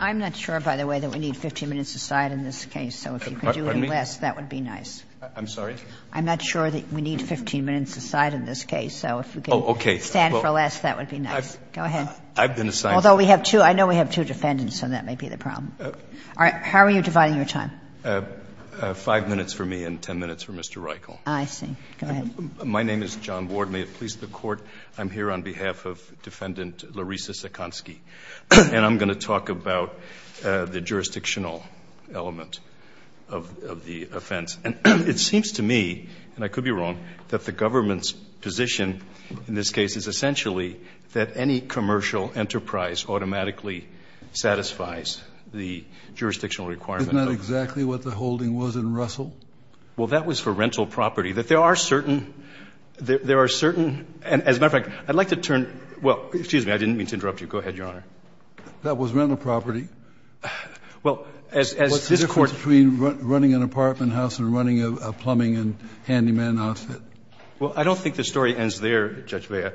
I'm not sure, by the way, that we need 15 minutes aside in this case, so if you could do it in less, that would be nice. I'm sorry? I'm not sure that we need 15 minutes aside in this case, so if we could stand for less, that would be nice. Go ahead. I've been assigned. Although I know we have two defendants, so that may be the problem. How are you dividing your time? Five minutes for me and 10 minutes for Mr. Reichel. I see. Go ahead. My name is John Ward. May it please the Court, I'm here on behalf of Defendant Larisa Sakhansky and I'm going to talk about the jurisdictional element of the offense. And it seems to me, and I could be wrong, that the government's position in this case is essentially that any commercial enterprise automatically satisfies the jurisdictional requirement. Isn't that exactly what the holding was in Russell? Well, that was for rental property. There are certain, as a matter of fact, I'd like to turn, well, excuse me, I didn't mean to interrupt you. Go ahead, Your Honor. That was rental property. Well, as this Court What's the difference between running an apartment house and running a plumbing and handyman outfit? Well, I don't think the story ends there, Judge Bea.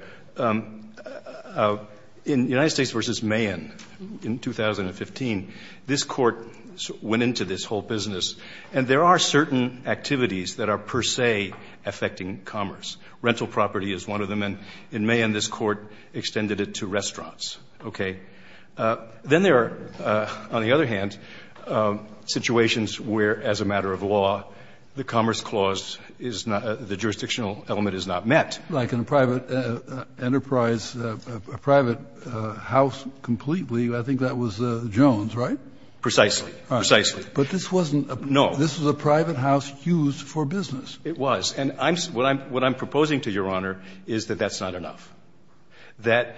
In United States v. Mahan in 2015, this Court went into this whole business, and there are certain activities that are per se affecting commerce. Rental property is one of them. And in Mahan, this Court extended it to restaurants. Okay. Then there are, on the other hand, situations where, as a matter of law, the commerce clause is not the jurisdictional element is not met. Like in a private enterprise, a private house completely, I think that was Jones, right? Precisely. Precisely. But this wasn't a private house used for business. It was. And what I'm proposing to Your Honor is that that's not enough, that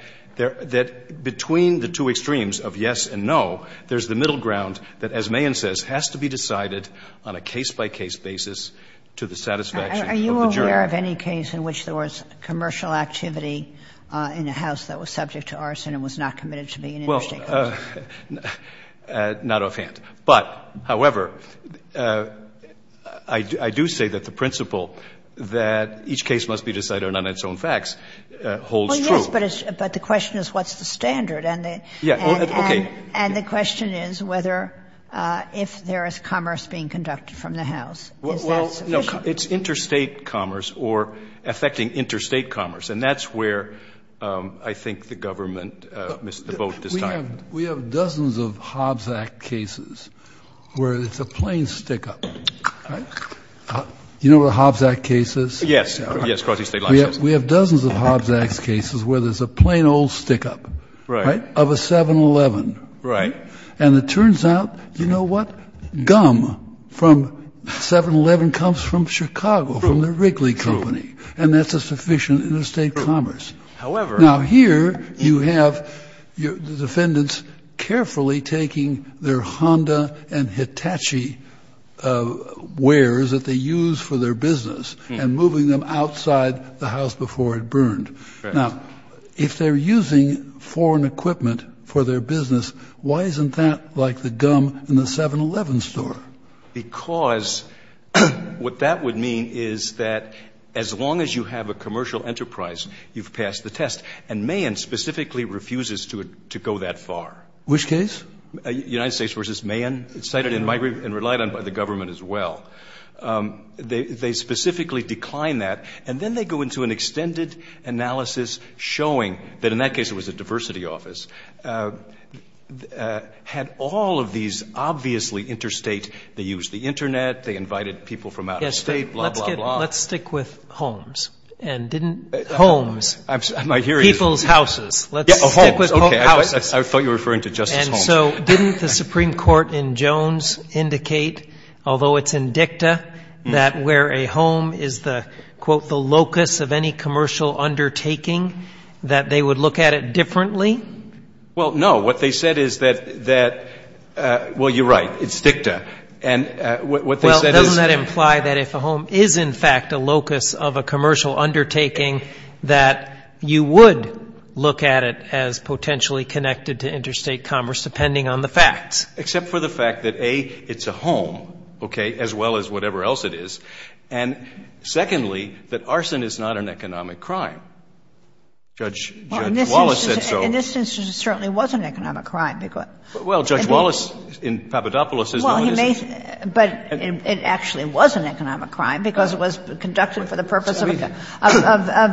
between the two extremes of yes and no, there's the middle ground that, as Mahan says, has to be decided on a case-by-case basis to the satisfaction of the juror. Are you aware of any case in which there was commercial activity in a house that was subject to arson and was not committed to being in United States? Well, not offhand. But, however, I do say that the principle that each case must be decided on its own facts holds true. Well, yes, but the question is what's the standard? And the question is whether, if there is commerce being conducted from the house, is that sufficient? Well, no. It's interstate commerce or affecting interstate commerce. And that's where I think the government missed the boat this time. We have dozens of Hobbs Act cases where it's a plain stick-up. You know what a Hobbs Act case is? Yes. We have dozens of Hobbs Act cases where there's a plain old stick-up. Right. Of a 7-Eleven. Right. And it turns out, you know what? Gum from 7-Eleven comes from Chicago, from the Wrigley Company. And that's a sufficient interstate commerce. Now, here you have the defendants carefully taking their Honda and Hitachi wares that they use for their business and moving them outside the house before it burned. Now, if they're using foreign equipment for their business, why isn't that like the gum in the 7-Eleven store? Because what that would mean is that as long as you have a commercial enterprise, you've passed the test. And Mahan specifically refuses to go that far. Which case? United States v. Mahan. It's cited in my brief and relied on by the government as well. They specifically decline that. And then they go into an extended analysis showing that, in that case, it was a diversity office. Had all of these obviously interstate, they used the Internet, they invited people from out of state, blah, blah, blah. Let's stick with homes. And didn't homes, people's houses. Let's stick with houses. I thought you were referring to Justice Holmes. And so didn't the Supreme Court in Jones indicate, although it's in dicta, that where a home is the, quote, the locus of any commercial undertaking, that they would look at it differently? Well, no. What they said is that, well, you're right, it's dicta. Well, doesn't that imply that if a home is, in fact, a locus of a commercial undertaking, that you would look at it as potentially connected to interstate commerce, depending on the facts? Except for the fact that, A, it's a home, okay, as well as whatever else it is. And secondly, that arson is not an economic crime. Judge Wallace said so. Well, in this instance, it certainly was an economic crime. But it actually was an economic crime because it was conducted for the purpose of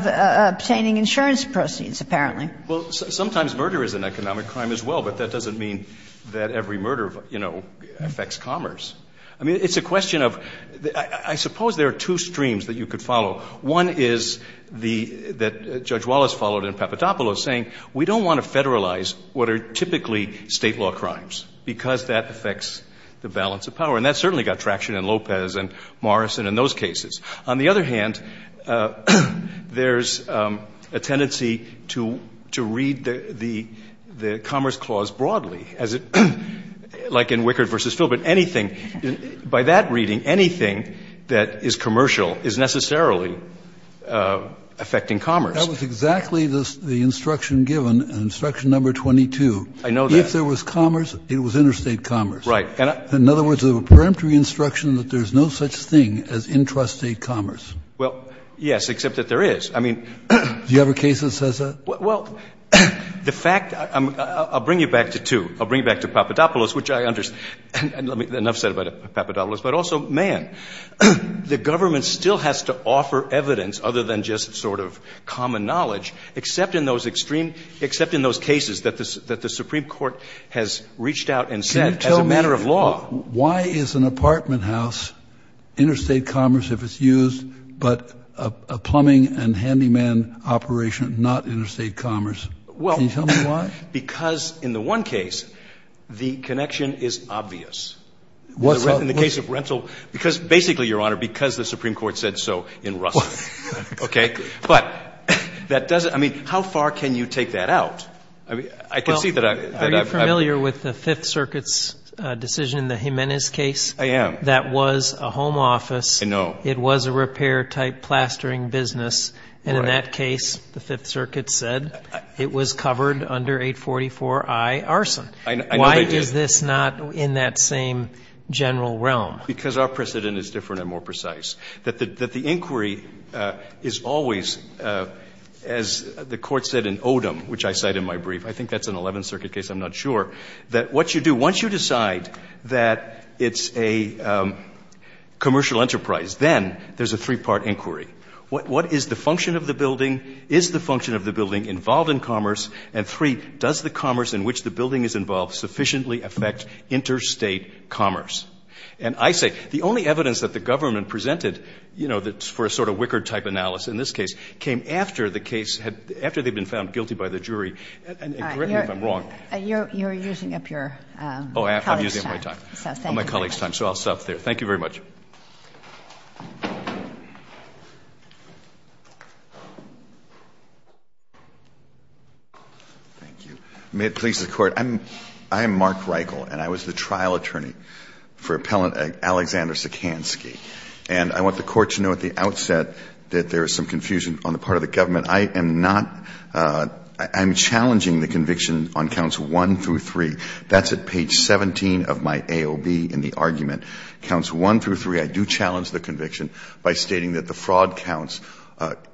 obtaining insurance proceeds, apparently. Well, sometimes murder is an economic crime as well. But that doesn't mean that every murder, you know, affects commerce. I mean, it's a question of the – I suppose there are two streams that you could follow. One is the – that Judge Wallace followed in Papadopoulos, saying we don't want to federalize what are typically State law crimes because that affects the balance of power. And that certainly got traction in Lopez and Morrison and those cases. On the other hand, there's a tendency to read the Commerce Clause broadly, as it – like in Wickard v. Phil. But anything – by that reading, anything that is commercial is necessarily affecting commerce. That was exactly the instruction given, instruction number 22. I know that. If there was commerce, it was interstate commerce. Right. In other words, there was a peremptory instruction that there's no such thing as intrastate commerce. Well, yes, except that there is. I mean – Do you have a case that says that? Well, the fact – I'll bring you back to two. I'll bring you back to Papadopoulos, which I understand. Enough said about Papadopoulos. But also, man, the government still has to offer evidence other than just sort of common knowledge, except in those extreme – except in those cases that the Supreme Court has reached out and said, as a matter of law – Can you tell me why is an apartment house interstate commerce if it's used, but a plumbing and handyman operation, not interstate commerce? Well – Can you tell me why? Because in the one case, the connection is obvious. In the case of rental – because basically, Your Honor, because the Supreme Court said so in Russell. Okay. But that doesn't – I mean, how far can you take that out? I mean, I can see that I've – Well, are you familiar with the Fifth Circuit's decision in the Jimenez case? I am. That was a home office. I know. It was a repair-type plastering business. And in that case, the Fifth Circuit said it was covered under 844i arson. I know that it is. Why is this not in that same general realm? Because our precedent is different and more precise. That the inquiry is always, as the Court said in Odom, which I cite in my brief – I think that's an Eleventh Circuit case. I'm not sure. That what you do, once you decide that it's a commercial enterprise, then there's a three-part inquiry. What is the function of the building? Is the function of the building involved in commerce? And three, does the commerce in which the building is involved sufficiently affect interstate commerce? And I say the only evidence that the government presented, you know, for a sort of Wickard-type analysis in this case, came after the case had – after they'd been found guilty by the jury. And correct me if I'm wrong. You're using up your colleague's time. Oh, I'm using up my time. So thank you very much. My colleague's time. So I'll stop there. Thank you very much. Thank you. May it please the Court. I'm Mark Reichel, and I was the trial attorney. For Appellant Alexander Sikansky. And I want the Court to know at the outset that there is some confusion on the part of the government. I am not – I'm challenging the conviction on counts 1 through 3. That's at page 17 of my AOB in the argument. Counts 1 through 3, I do challenge the conviction by stating that the fraud counts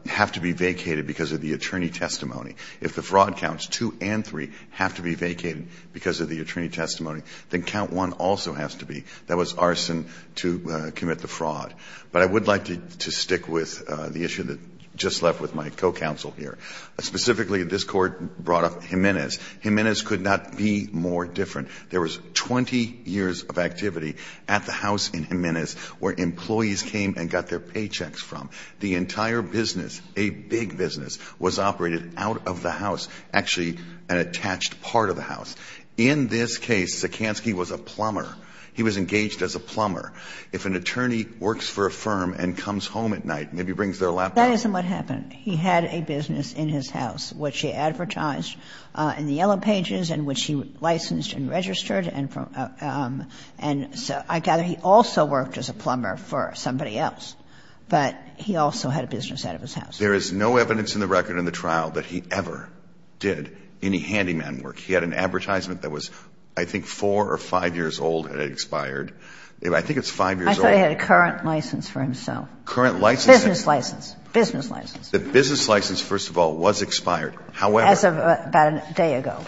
have to be vacated because of the attorney testimony. If the fraud counts 2 and 3 have to be vacated because of the attorney testimony, then count 1 also has to be. That was arson to commit the fraud. But I would like to stick with the issue that just left with my co-counsel here. Specifically, this Court brought up Jimenez. Jimenez could not be more different. There was 20 years of activity at the house in Jimenez where employees came and got their paychecks from. The entire business, a big business, was operated out of the house, actually an attached part of the house. In this case, Sikansky was a plumber. He was engaged as a plumber. If an attorney works for a firm and comes home at night, maybe brings their laptop. Ginsburg. That isn't what happened. He had a business in his house which he advertised in the yellow pages and which he licensed and registered and from – and I gather he also worked as a plumber for somebody else, but he also had a business out of his house. There is no evidence in the record in the trial that he ever did any handyman work. He had an advertisement that was, I think, 4 or 5 years old and it expired. I think it's 5 years old. I thought he had a current license for himself. Current license. Business license. Business license. The business license, first of all, was expired. However. As of about a day ago.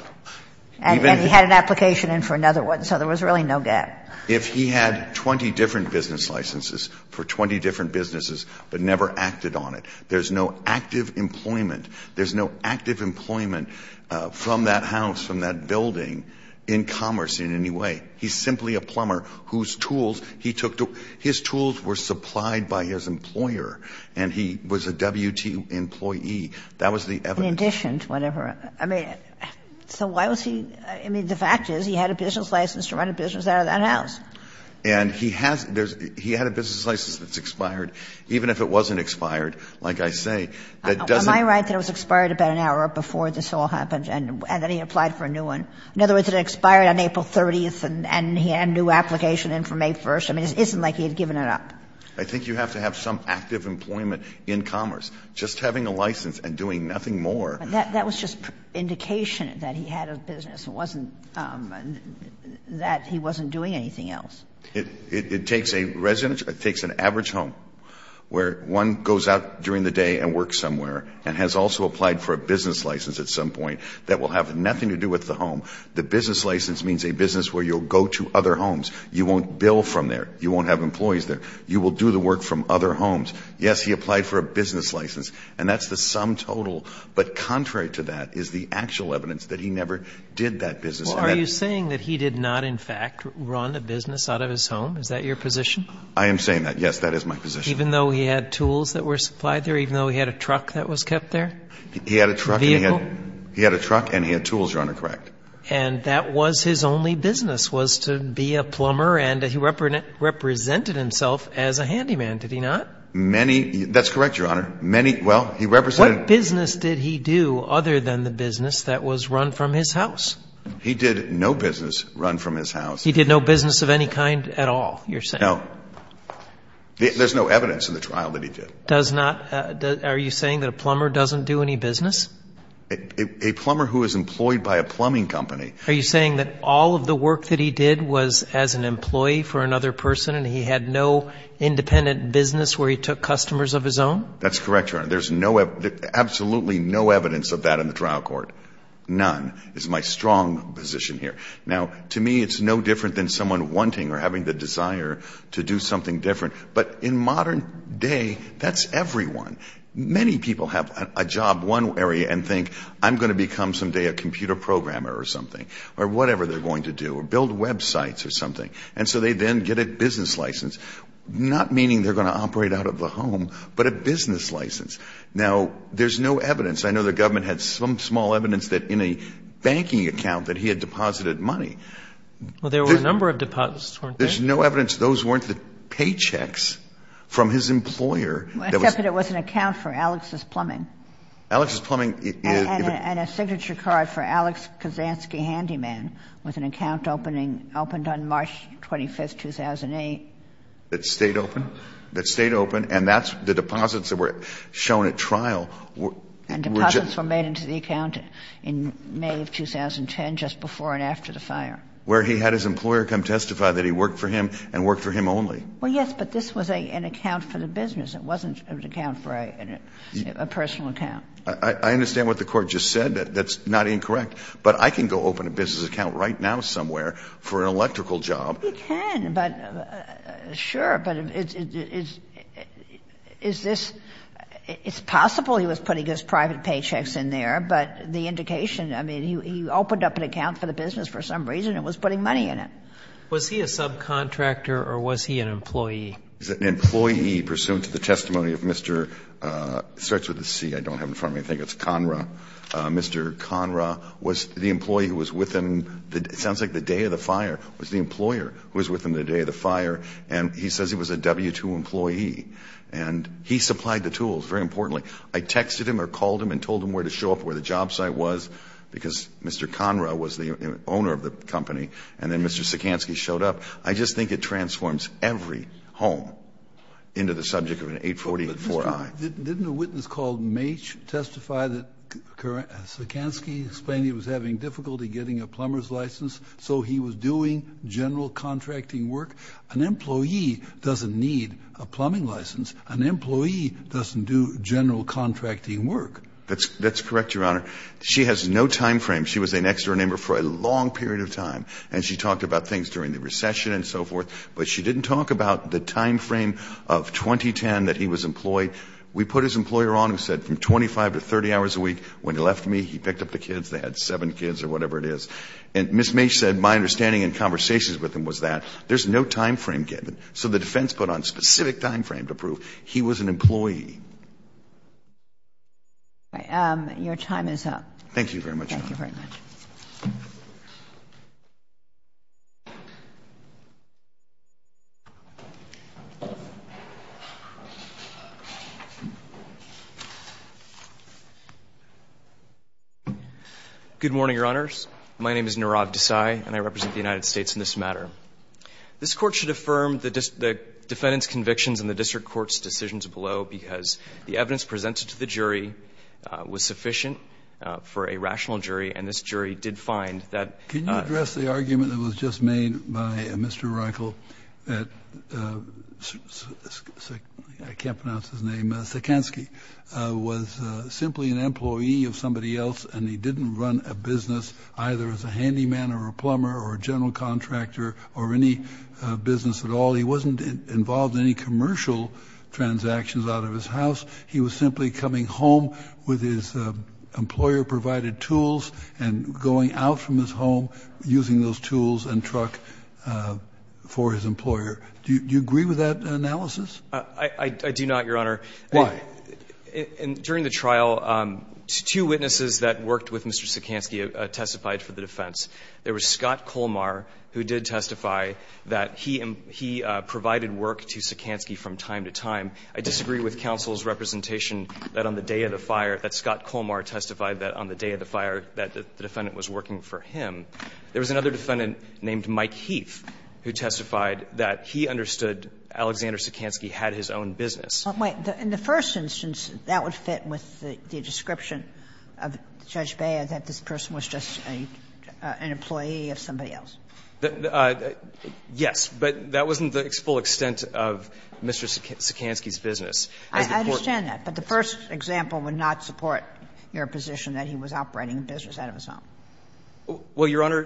And he had an application in for another one, so there was really no gap. If he had 20 different business licenses for 20 different businesses but never acted on it, there's no active employment, there's no active employment from that house, from that building in commerce in any way. He's simply a plumber whose tools he took to – his tools were supplied by his employer and he was a WT employee. That was the evidence. In addition to whatever. I mean, so why was he – I mean, the fact is he had a business license to run a business out of that house. And he has – he had a business license that's expired. Even if it wasn't expired, like I say, that doesn't – Am I right that it was expired about an hour before this all happened and then he applied for a new one? In other words, it expired on April 30th and he had a new application in for May 1st. I mean, it isn't like he had given it up. I think you have to have some active employment in commerce. Just having a license and doing nothing more. That was just indication that he had a business. It wasn't that he wasn't doing anything else. It takes a resident – it takes an average home where one goes out during the day and works somewhere and has also applied for a business license at some point that will have nothing to do with the home. The business license means a business where you'll go to other homes. You won't bill from there. You won't have employees there. You will do the work from other homes. Yes, he applied for a business license and that's the sum total. But contrary to that is the actual evidence that he never did that business. Are you saying that he did not in fact run a business out of his home? Is that your position? I am saying that. Yes, that is my position. Even though he had tools that were supplied there? Even though he had a truck that was kept there? He had a truck and he had tools, Your Honor. Correct. And that was his only business was to be a plumber and he represented himself as a handyman, did he not? Many – that's correct, Your Honor. Many – well, he represented – What business did he do other than the business that was run from his house? He did no business run from his house. He did no business of any kind at all, you're saying? No. There's no evidence in the trial that he did. Does not – are you saying that a plumber doesn't do any business? A plumber who is employed by a plumbing company – Are you saying that all of the work that he did was as an employee for another person and he had no independent business where he took customers of his own? That's correct, Your Honor. There's absolutely no evidence of that in the trial court. None is my strong position here. Now, to me, it's no different than someone wanting or having the desire to do something different. But in modern day, that's everyone. Many people have a job one way and think, I'm going to become someday a computer programmer or something, or whatever they're going to do, or build websites or something. And so they then get a business license, not meaning they're going to operate out of the home, but a business license. Now, there's no evidence. I know the government had some small evidence that in a banking account that he had deposited money. Well, there were a number of deposits, weren't there? There's no evidence those weren't the paychecks from his employer. Except that it was an account for Alex's Plumbing. Alex's Plumbing is – And a signature card for Alex Kazansky Handyman was an account opened on March 25, 2008. That stayed open? That stayed open. And that's the deposits that were shown at trial. And deposits were made into the account in May of 2010, just before and after the fire. Where he had his employer come testify that he worked for him and worked for him only. Well, yes, but this was an account for the business. It wasn't an account for a personal account. I understand what the Court just said. That's not incorrect. But I can go open a business account right now somewhere for an electrical job. You can. But, sure, but is this – it's possible he was putting his private paychecks in there, but the indication – I mean, he opened up an account for the business for some reason and was putting money in it. Was he a subcontractor or was he an employee? An employee, pursuant to the testimony of Mr. – it starts with a C. I don't have it in front of me. I think it's Conra. Mr. Conra was the employee who was with him. It sounds like the day of the fire was the employer who was with him the day of the fire. And he says he was a W-2 employee. And he supplied the tools, very importantly. I texted him or called him and told him where to show up, where the job site was, because Mr. Conra was the owner of the company. And then Mr. Sikansky showed up. I just think it transforms every home into the subject of an 844-I. Didn't a witness called Mache testify that Sikansky explained he was having difficulty getting a plumber's license so he was doing general contracting work? An employee doesn't need a plumbing license. An employee doesn't do general contracting work. That's correct, Your Honor. She has no time frame. She was a next-door neighbor for a long period of time. And she talked about things during the recession and so forth. But she didn't talk about the time frame of 2010 that he was employed. We put his employer on who said from 25 to 30 hours a week. When he left me, he picked up the kids. They had seven kids or whatever it is. And Ms. Mache said my understanding in conversations with him was that there's no time frame given. So the defense put on specific time frame to prove he was an employee. Your time is up. Thank you very much, Your Honor. Thank you very much. Good morning, Your Honors. My name is Nirav Desai, and I represent the United States in this matter. This Court should affirm the defendant's convictions and the district court's decisions below because the evidence presented to the jury was sufficient for a rational jury, and this jury did find that. Can you address the argument that was just made by Mr. Reinkel that Sikansky was simply an employee of somebody else and he didn't run a business either as a handyman or a plumber or a general contractor or any business at all? He wasn't involved in any commercial transactions out of his house. He was simply coming home with his employer-provided tools and going out from his home using those tools and truck for his employer. Do you agree with that analysis? I do not, Your Honor. Why? During the trial, two witnesses that worked with Mr. Sikansky testified for the defense. There was Scott Colmar who did testify that he provided work to Sikansky from time to time. I disagree with counsel's representation that on the day of the fire, that Scott Colmar testified that on the day of the fire that the defendant was working for him. There was another defendant named Mike Heath who testified that he understood Alexander Sikansky had his own business. Wait. In the first instance, that would fit with the description of Judge Bea that this person was just an employee of somebody else? Yes. But that wasn't the full extent of Mr. Sikansky's business. I understand that. But the first example would not support your position that he was operating a business out of his home. Well, Your Honor,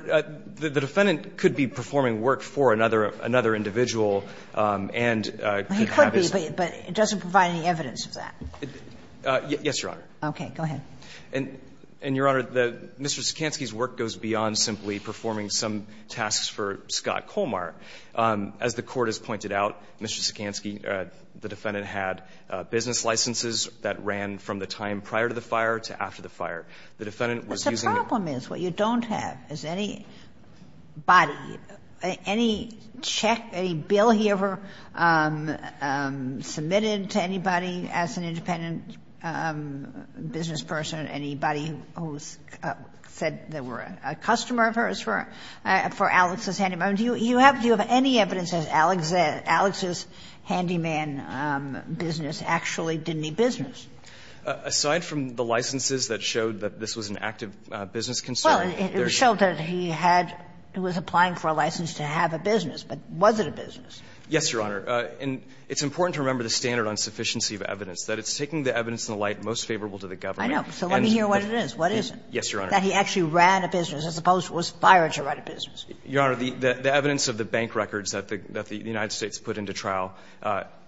the defendant could be performing work for another individual and could have his own. But it doesn't provide any evidence of that. Yes, Your Honor. Okay. Go ahead. And, Your Honor, Mr. Sikansky's work goes beyond simply performing some tasks for Scott Colmar. As the Court has pointed out, Mr. Sikansky, the defendant had business licenses that ran from the time prior to the fire to after the fire. The defendant was using the. But the problem is what you don't have is any body, any check, any bill he ever submitted to anybody as an independent business person, anybody who said they were a customer of his for Alex's Handyman. Do you have any evidence that Alex's Handyman business actually did any business? Aside from the licenses that showed that this was an active business concern. Well, it showed that he had he was applying for a license to have a business. But was it a business? Yes, Your Honor. And it's important to remember the standard on sufficiency of evidence, that it's taking the evidence in the light most favorable to the government. I know. So let me hear what it is. What is it? Yes, Your Honor. That he actually ran a business as opposed to was fired to run a business. Your Honor, the evidence of the bank records that the United States put into trial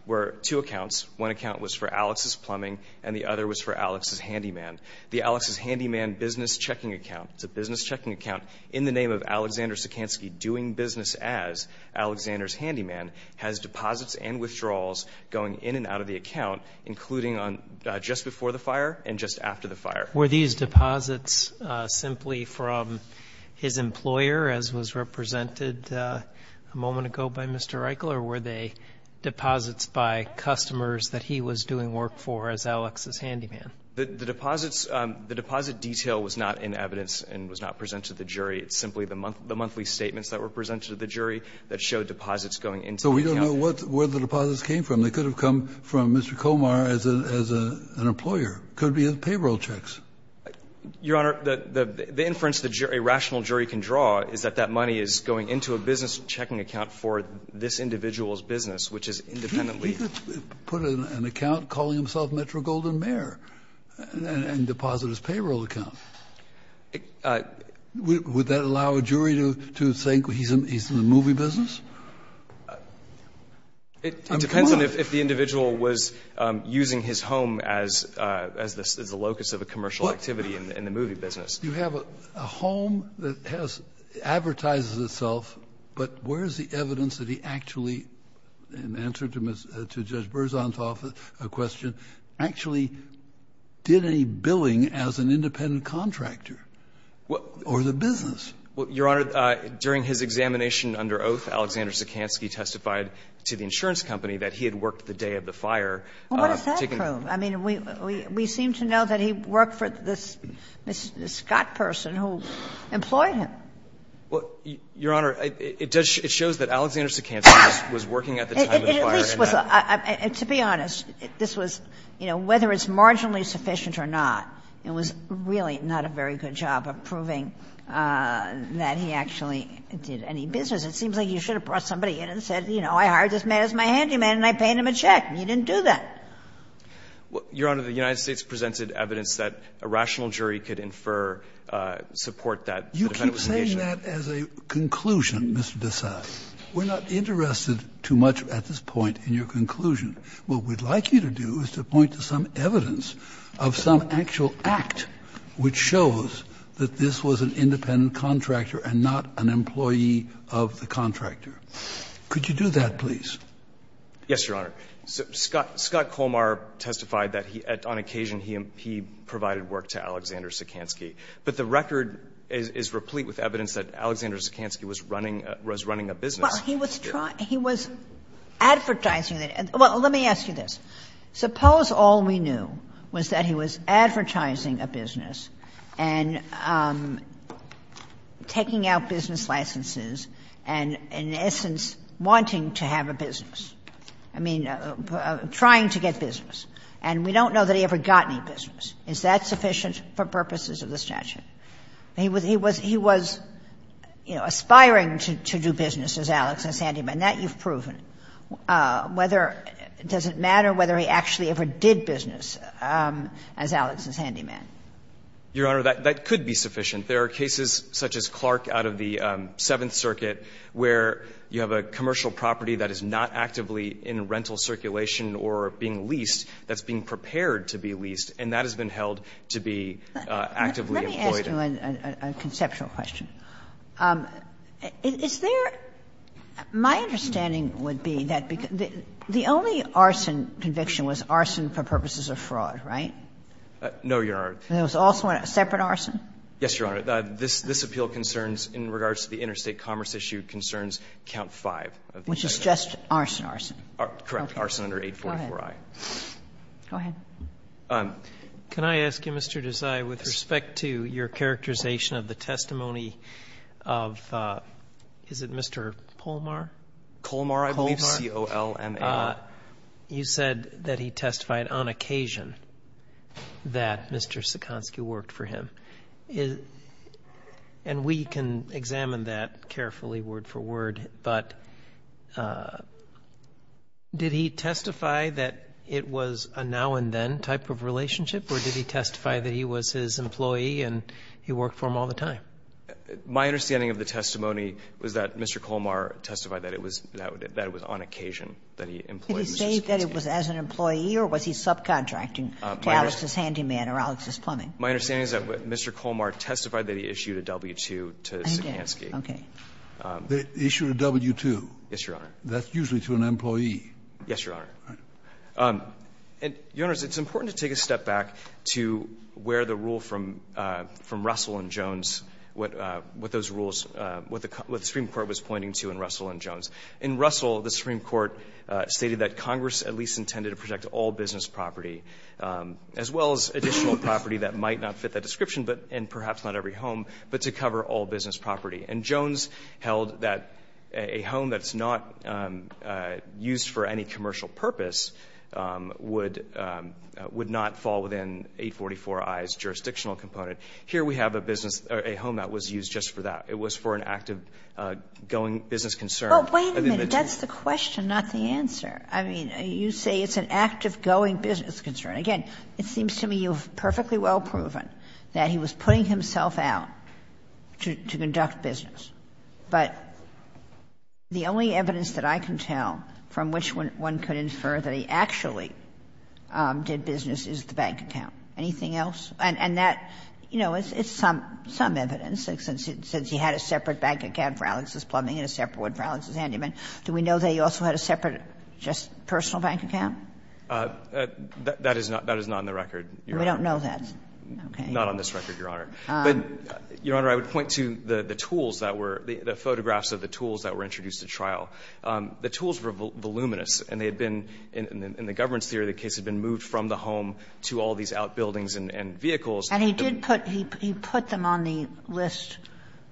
were two accounts. One account was for Alex's Plumbing, and the other was for Alex's Handyman. The Alex's Handyman business checking account, it's a business checking account in the name of Alexander Sikansky doing business as Alexander's Handyman, has deposits and withdrawals going in and out of the account, including on just before the fire and just after the fire. Were these deposits simply from his employer, as was represented a moment ago by Mr. Reichle, or were they deposits by customers that he was doing work for as Alex's Handyman? The deposits, the deposit detail was not in evidence and was not presented to the jury. It's simply the monthly statements that were presented to the jury that showed deposits going into the account. So we don't know where the deposits came from. They could have come from Mr. Komar as an employer. Could be payroll checks. Your Honor, the inference a rational jury can draw is that that money is going into a business checking account for this individual's business, which is independently We could put an account calling himself Metro-Golden-Mare and deposit his payroll account. Would that allow a jury to think he's in the movie business? It depends on if the individual was using his home as the locus of a commercial activity in the movie business. You have a home that advertises itself, but where's the evidence that he actually in answer to Judge Berzontoff's question, actually did any billing as an independent contractor or the business? Well, Your Honor, during his examination under oath, Alexander Sikansky testified to the insurance company that he had worked the day of the fire. Well, what does that prove? I mean, we seem to know that he worked for this Scott person who employed him. Well, Your Honor, it shows that Alexander Sikansky was working at the time of the fire. At least, to be honest, this was, you know, whether it's marginally sufficient or not, it was really not a very good job of proving that he actually did any business. It seems like you should have brought somebody in and said, you know, I hired this man as my handyman and I paid him a check, and he didn't do that. Well, Your Honor, the United States presented evidence that a rational jury could infer support that the defendant was engaged in that. You keep saying that as a conclusion, Mr. Desai. We're not interested too much at this point in your conclusion. What we'd like you to do is to point to some evidence of some actual act which shows that this was an independent contractor and not an employee of the contractor. Could you do that, please? Yes, Your Honor. Scott Colmar testified that on occasion he provided work to Alexander Sikansky but the record is replete with evidence that Alexander Sikansky was running a business. Well, he was trying to – he was advertising that. Well, let me ask you this. Suppose all we knew was that he was advertising a business and taking out business licenses and, in essence, wanting to have a business. I mean, trying to get business. And we don't know that he ever got any business. Is that sufficient for purposes of the statute? He was – he was, you know, aspiring to do business as Alex, as handyman. That you've proven. Whether – does it matter whether he actually ever did business as Alex, as handyman? Your Honor, that could be sufficient. There are cases such as Clark out of the Seventh Circuit where you have a commercial property that is not actively in rental circulation or being leased that's being prepared to be leased. And that has been held to be actively employed. Let me ask you a conceptual question. Is there – my understanding would be that the only arson conviction was arson for purposes of fraud, right? No, Your Honor. There was also a separate arson? Yes, Your Honor. This appeal concerns, in regards to the interstate commerce issue, concerns count five. Which is just arson, arson. Correct. Arson under 844i. Go ahead. Can I ask you, Mr. Desai, with respect to your characterization of the testimony of – is it Mr. Polmar? Polmar, I believe. Polmar. C-O-L-M-A-R. You said that he testified on occasion that Mr. Sikansky worked for him. And we can examine that carefully word for word. But did he testify that it was a now-and-then type of relationship? Or did he testify that he was his employee and he worked for him all the time? My understanding of the testimony was that Mr. Polmar testified that it was on occasion that he employed Mr. Sikansky. Did he say that it was as an employee, or was he subcontracting to Alex's Handyman or Alex's Plumbing? My understanding is that Mr. Polmar testified that he issued a W-2 to Sikansky. Okay. They issued a W-2. Yes, Your Honor. That's usually to an employee. Yes, Your Honor. And, Your Honors, it's important to take a step back to where the rule from Russell and Jones, what those rules, what the Supreme Court was pointing to in Russell and Jones. In Russell, the Supreme Court stated that Congress at least intended to protect all business property, as well as additional property that might not fit that description and perhaps not every home, but to cover all business property. And Jones held that a home that's not used for any commercial purpose would not fall within 844i's jurisdictional component. Here we have a business or a home that was used just for that. It was for an active going business concern. But wait a minute. That's the question, not the answer. I mean, you say it's an active going business concern. Again, it seems to me you've perfectly well proven that he was putting himself out to conduct business. But the only evidence that I can tell from which one could infer that he actually did business is the bank account. Anything else? And that, you know, it's some evidence, since he had a separate bank account for Alex's plumbing and a separate one for Alex's handyman. Do we know that he also had a separate just personal bank account? That is not on the record, Your Honor. We don't know that. Okay. Not on this record, Your Honor. But, Your Honor, I would point to the tools that were the photographs of the tools that were introduced at trial. The tools were voluminous, and they had been, in the governance theory of the case, had been moved from the home to all these outbuildings and vehicles. And he did put, he put them on the list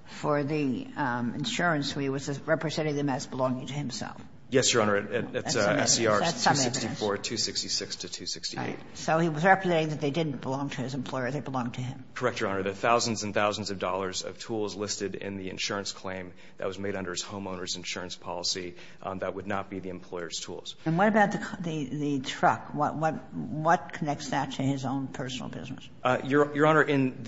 for the insurance. He was representing them as belonging to himself. Yes, Your Honor. That's SCR 264, 266 to 268. So he was representing that they didn't belong to his employer. They belonged to him. Correct, Your Honor. The thousands and thousands of dollars of tools listed in the insurance claim that was made under his homeowner's insurance policy, that would not be the employer's tools. And what about the truck? What connects that to his own personal business? Your Honor, in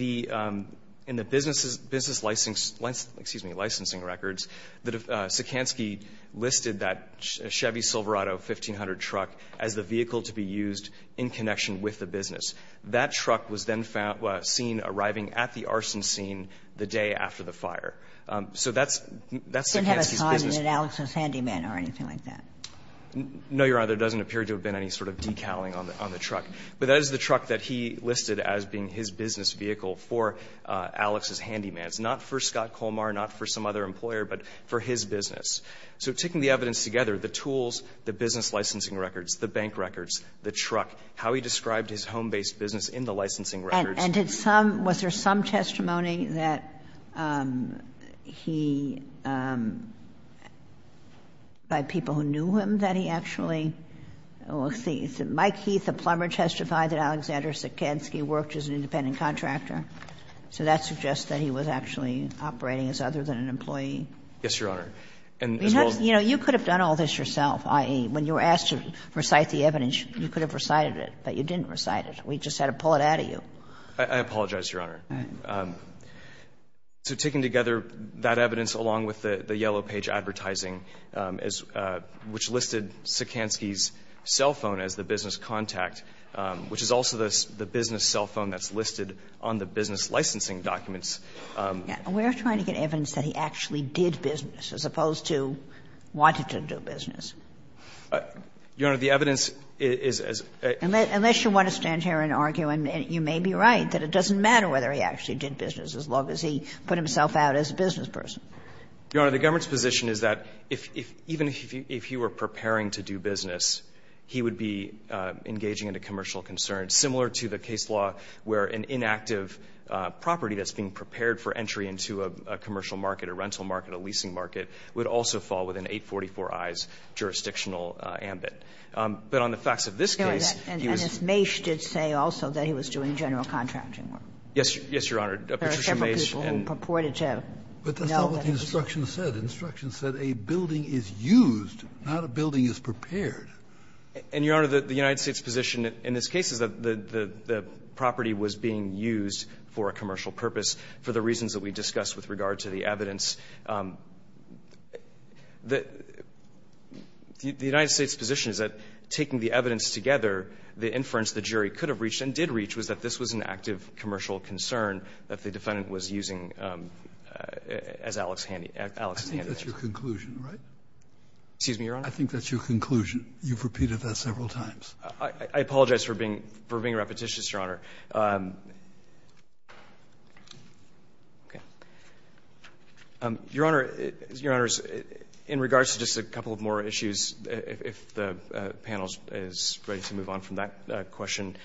the business license, excuse me, licensing records, Sikansky listed that Chevy Silverado 1500 truck as the vehicle to be used in connection with the business. That truck was then seen arriving at the arson scene the day after the fire. So that's Sikansky's business. It didn't have a sign that said Alex's Handyman or anything like that. No, Your Honor. There doesn't appear to have been any sort of decaling on the truck. But that is the truck that he listed as being his business vehicle for Alex's Handyman. It's not for Scott Colmar, not for some other employer, but for his business. So taking the evidence together, the tools, the business licensing records, the bank records, the truck, how he described his home-based business in the licensing records. And did some, was there some testimony that he, by people who knew him, that he actually, Mike Heath, a plumber, testified that Alexander Sikansky worked as an independent contractor. So that suggests that he was actually operating as other than an employee. Yes, Your Honor. And as well as. You know, you could have done all this yourself, i.e., when you were asked to recite the evidence, you could have recited it. But you didn't recite it. We just had to pull it out of you. I apologize, Your Honor. Right. So taking together that evidence along with the yellow page advertising, which listed Sikansky's cell phone as the business contact, which is also the business cell phone that's listed on the business licensing documents. We're trying to get evidence that he actually did business, as opposed to wanted to do business. Your Honor, the evidence is as a. Unless you want to stand here and argue, and you may be right, that it doesn't matter whether he actually did business as long as he put himself out as a business person. Your Honor, the government's position is that if, even if he were preparing to do business, he would be engaging in a commercial concern, similar to the case where an inactive property that's being prepared for entry into a commercial market, a rental market, a leasing market, would also fall within 844i's jurisdictional ambit. But on the facts of this case, he was. And Ms. Mace did say also that he was doing general contracting work. Yes, Your Honor. Patricia Mace. There are several people who purported to know that. But that's not what the instruction said. The instruction said a building is used, not a building is prepared. And, Your Honor, the United States' position in this case is that the property was being used for a commercial purpose for the reasons that we discussed with regard to the evidence. The United States' position is that taking the evidence together, the inference the jury could have reached and did reach was that this was an active commercial concern that the defendant was using as Alex's handiwork. I think that's your conclusion, right? Excuse me, Your Honor? I think that's your conclusion. You've repeated that several times. I apologize for being repetitious, Your Honor. Okay. Your Honor, in regards to just a couple of more issues, if the panel is ready to move on from that question,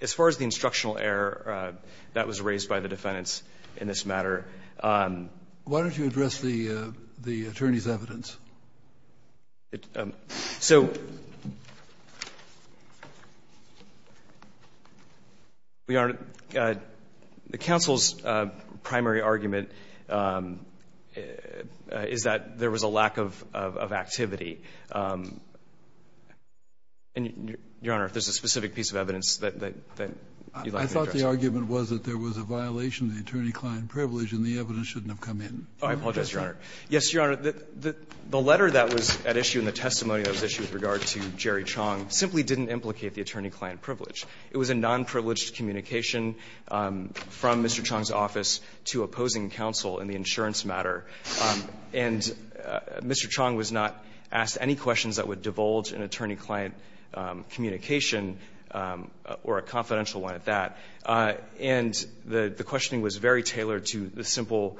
as far as the instructional error that was raised by the defendants in this matter. Why don't you address the attorney's evidence? So, Your Honor, the counsel's primary argument is that there was a lack of activity. And, Your Honor, if there's a specific piece of evidence that you'd like me to address. I thought the argument was that there was a violation of the attorney-client privilege and the evidence shouldn't have come in. Oh, I apologize, Your Honor. Yes, Your Honor, the letter that was at issue and the testimony that was issued with regard to Jerry Chong simply didn't implicate the attorney-client privilege. It was a nonprivileged communication from Mr. Chong's office to opposing counsel in the insurance matter. And Mr. Chong was not asked any questions that would divulge an attorney-client communication or a confidential one at that. And the questioning was very tailored to the simple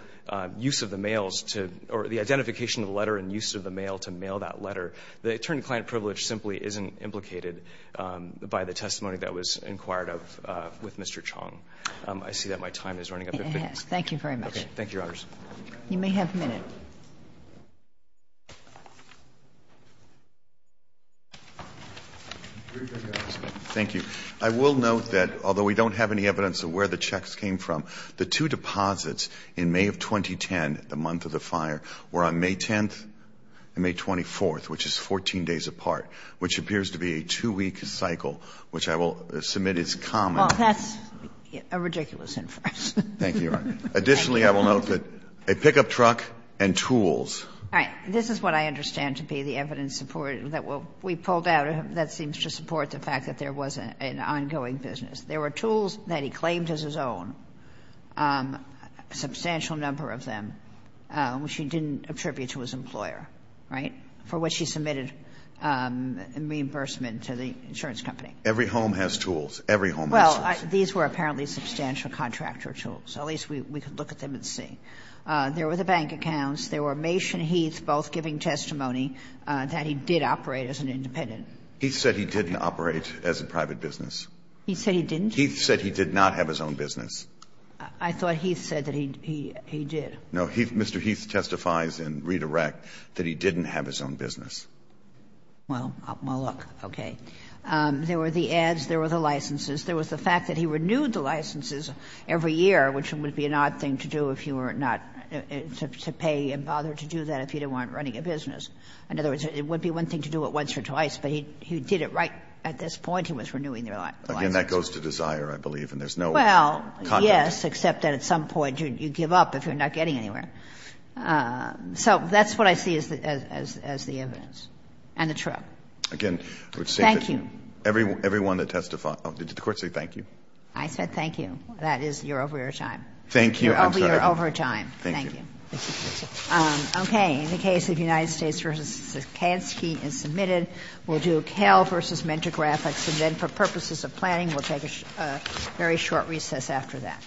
use of the mails to or the identification of the letter and use of the mail to mail that letter. The attorney-client privilege simply isn't implicated by the testimony that was inquired of with Mr. Chong. I see that my time is running up. It has. Thank you very much. Okay. Thank you, Your Honors. You may have a minute. Thank you. I will note that although we don't have any evidence of where the checks came from, the two deposits in May of 2010, the month of the fire, were on May 10th and May 24th, which is 14 days apart, which appears to be a two-week cycle, which I will submit as common. Well, that's a ridiculous inference. Thank you, Your Honor. Additionally, I will note that a pickup truck and tools. All right. This is what I understand to be the evidence that we pulled out that seems to support the fact that there was an ongoing business. There were tools that he claimed as his own, a substantial number of them, which he didn't attribute to his employer, right, for which he submitted reimbursement to the insurance company. Every home has tools. Every home has tools. Well, these were apparently substantial contractor tools. At least we could look at them and see. There were the bank accounts. There were Mace and Heath both giving testimony that he did operate as an independent. He said he didn't operate as a private business. He said he didn't? Heath said he did not have his own business. I thought Heath said that he did. No. Heath, Mr. Heath, testifies in Reed-Iraq that he didn't have his own business. Well, well, look. Okay. There were the ads. There were the licenses. There was the fact that he renewed the licenses every year, which would be an odd thing to do if you were not to pay and bother to do that if you weren't running a business. In other words, it would be one thing to do it once or twice, but he did it right at this point. He was renewing the licenses. Again, that goes to desire, I believe, and there's no context. Well, yes, except that at some point you give up if you're not getting anywhere. So that's what I see as the evidence and the truth. Again, I would say that everyone that testified. Thank you. Did the Court say thank you? I said thank you. That is, you're over your time. Thank you. I'm sorry. You're over your time. Thank you. Thank you. Okay. In the case of United States v. Sikansky is submitted. We'll do Kel v. Mentor Graphics, and then for purposes of planning, we'll take a very short recess after that.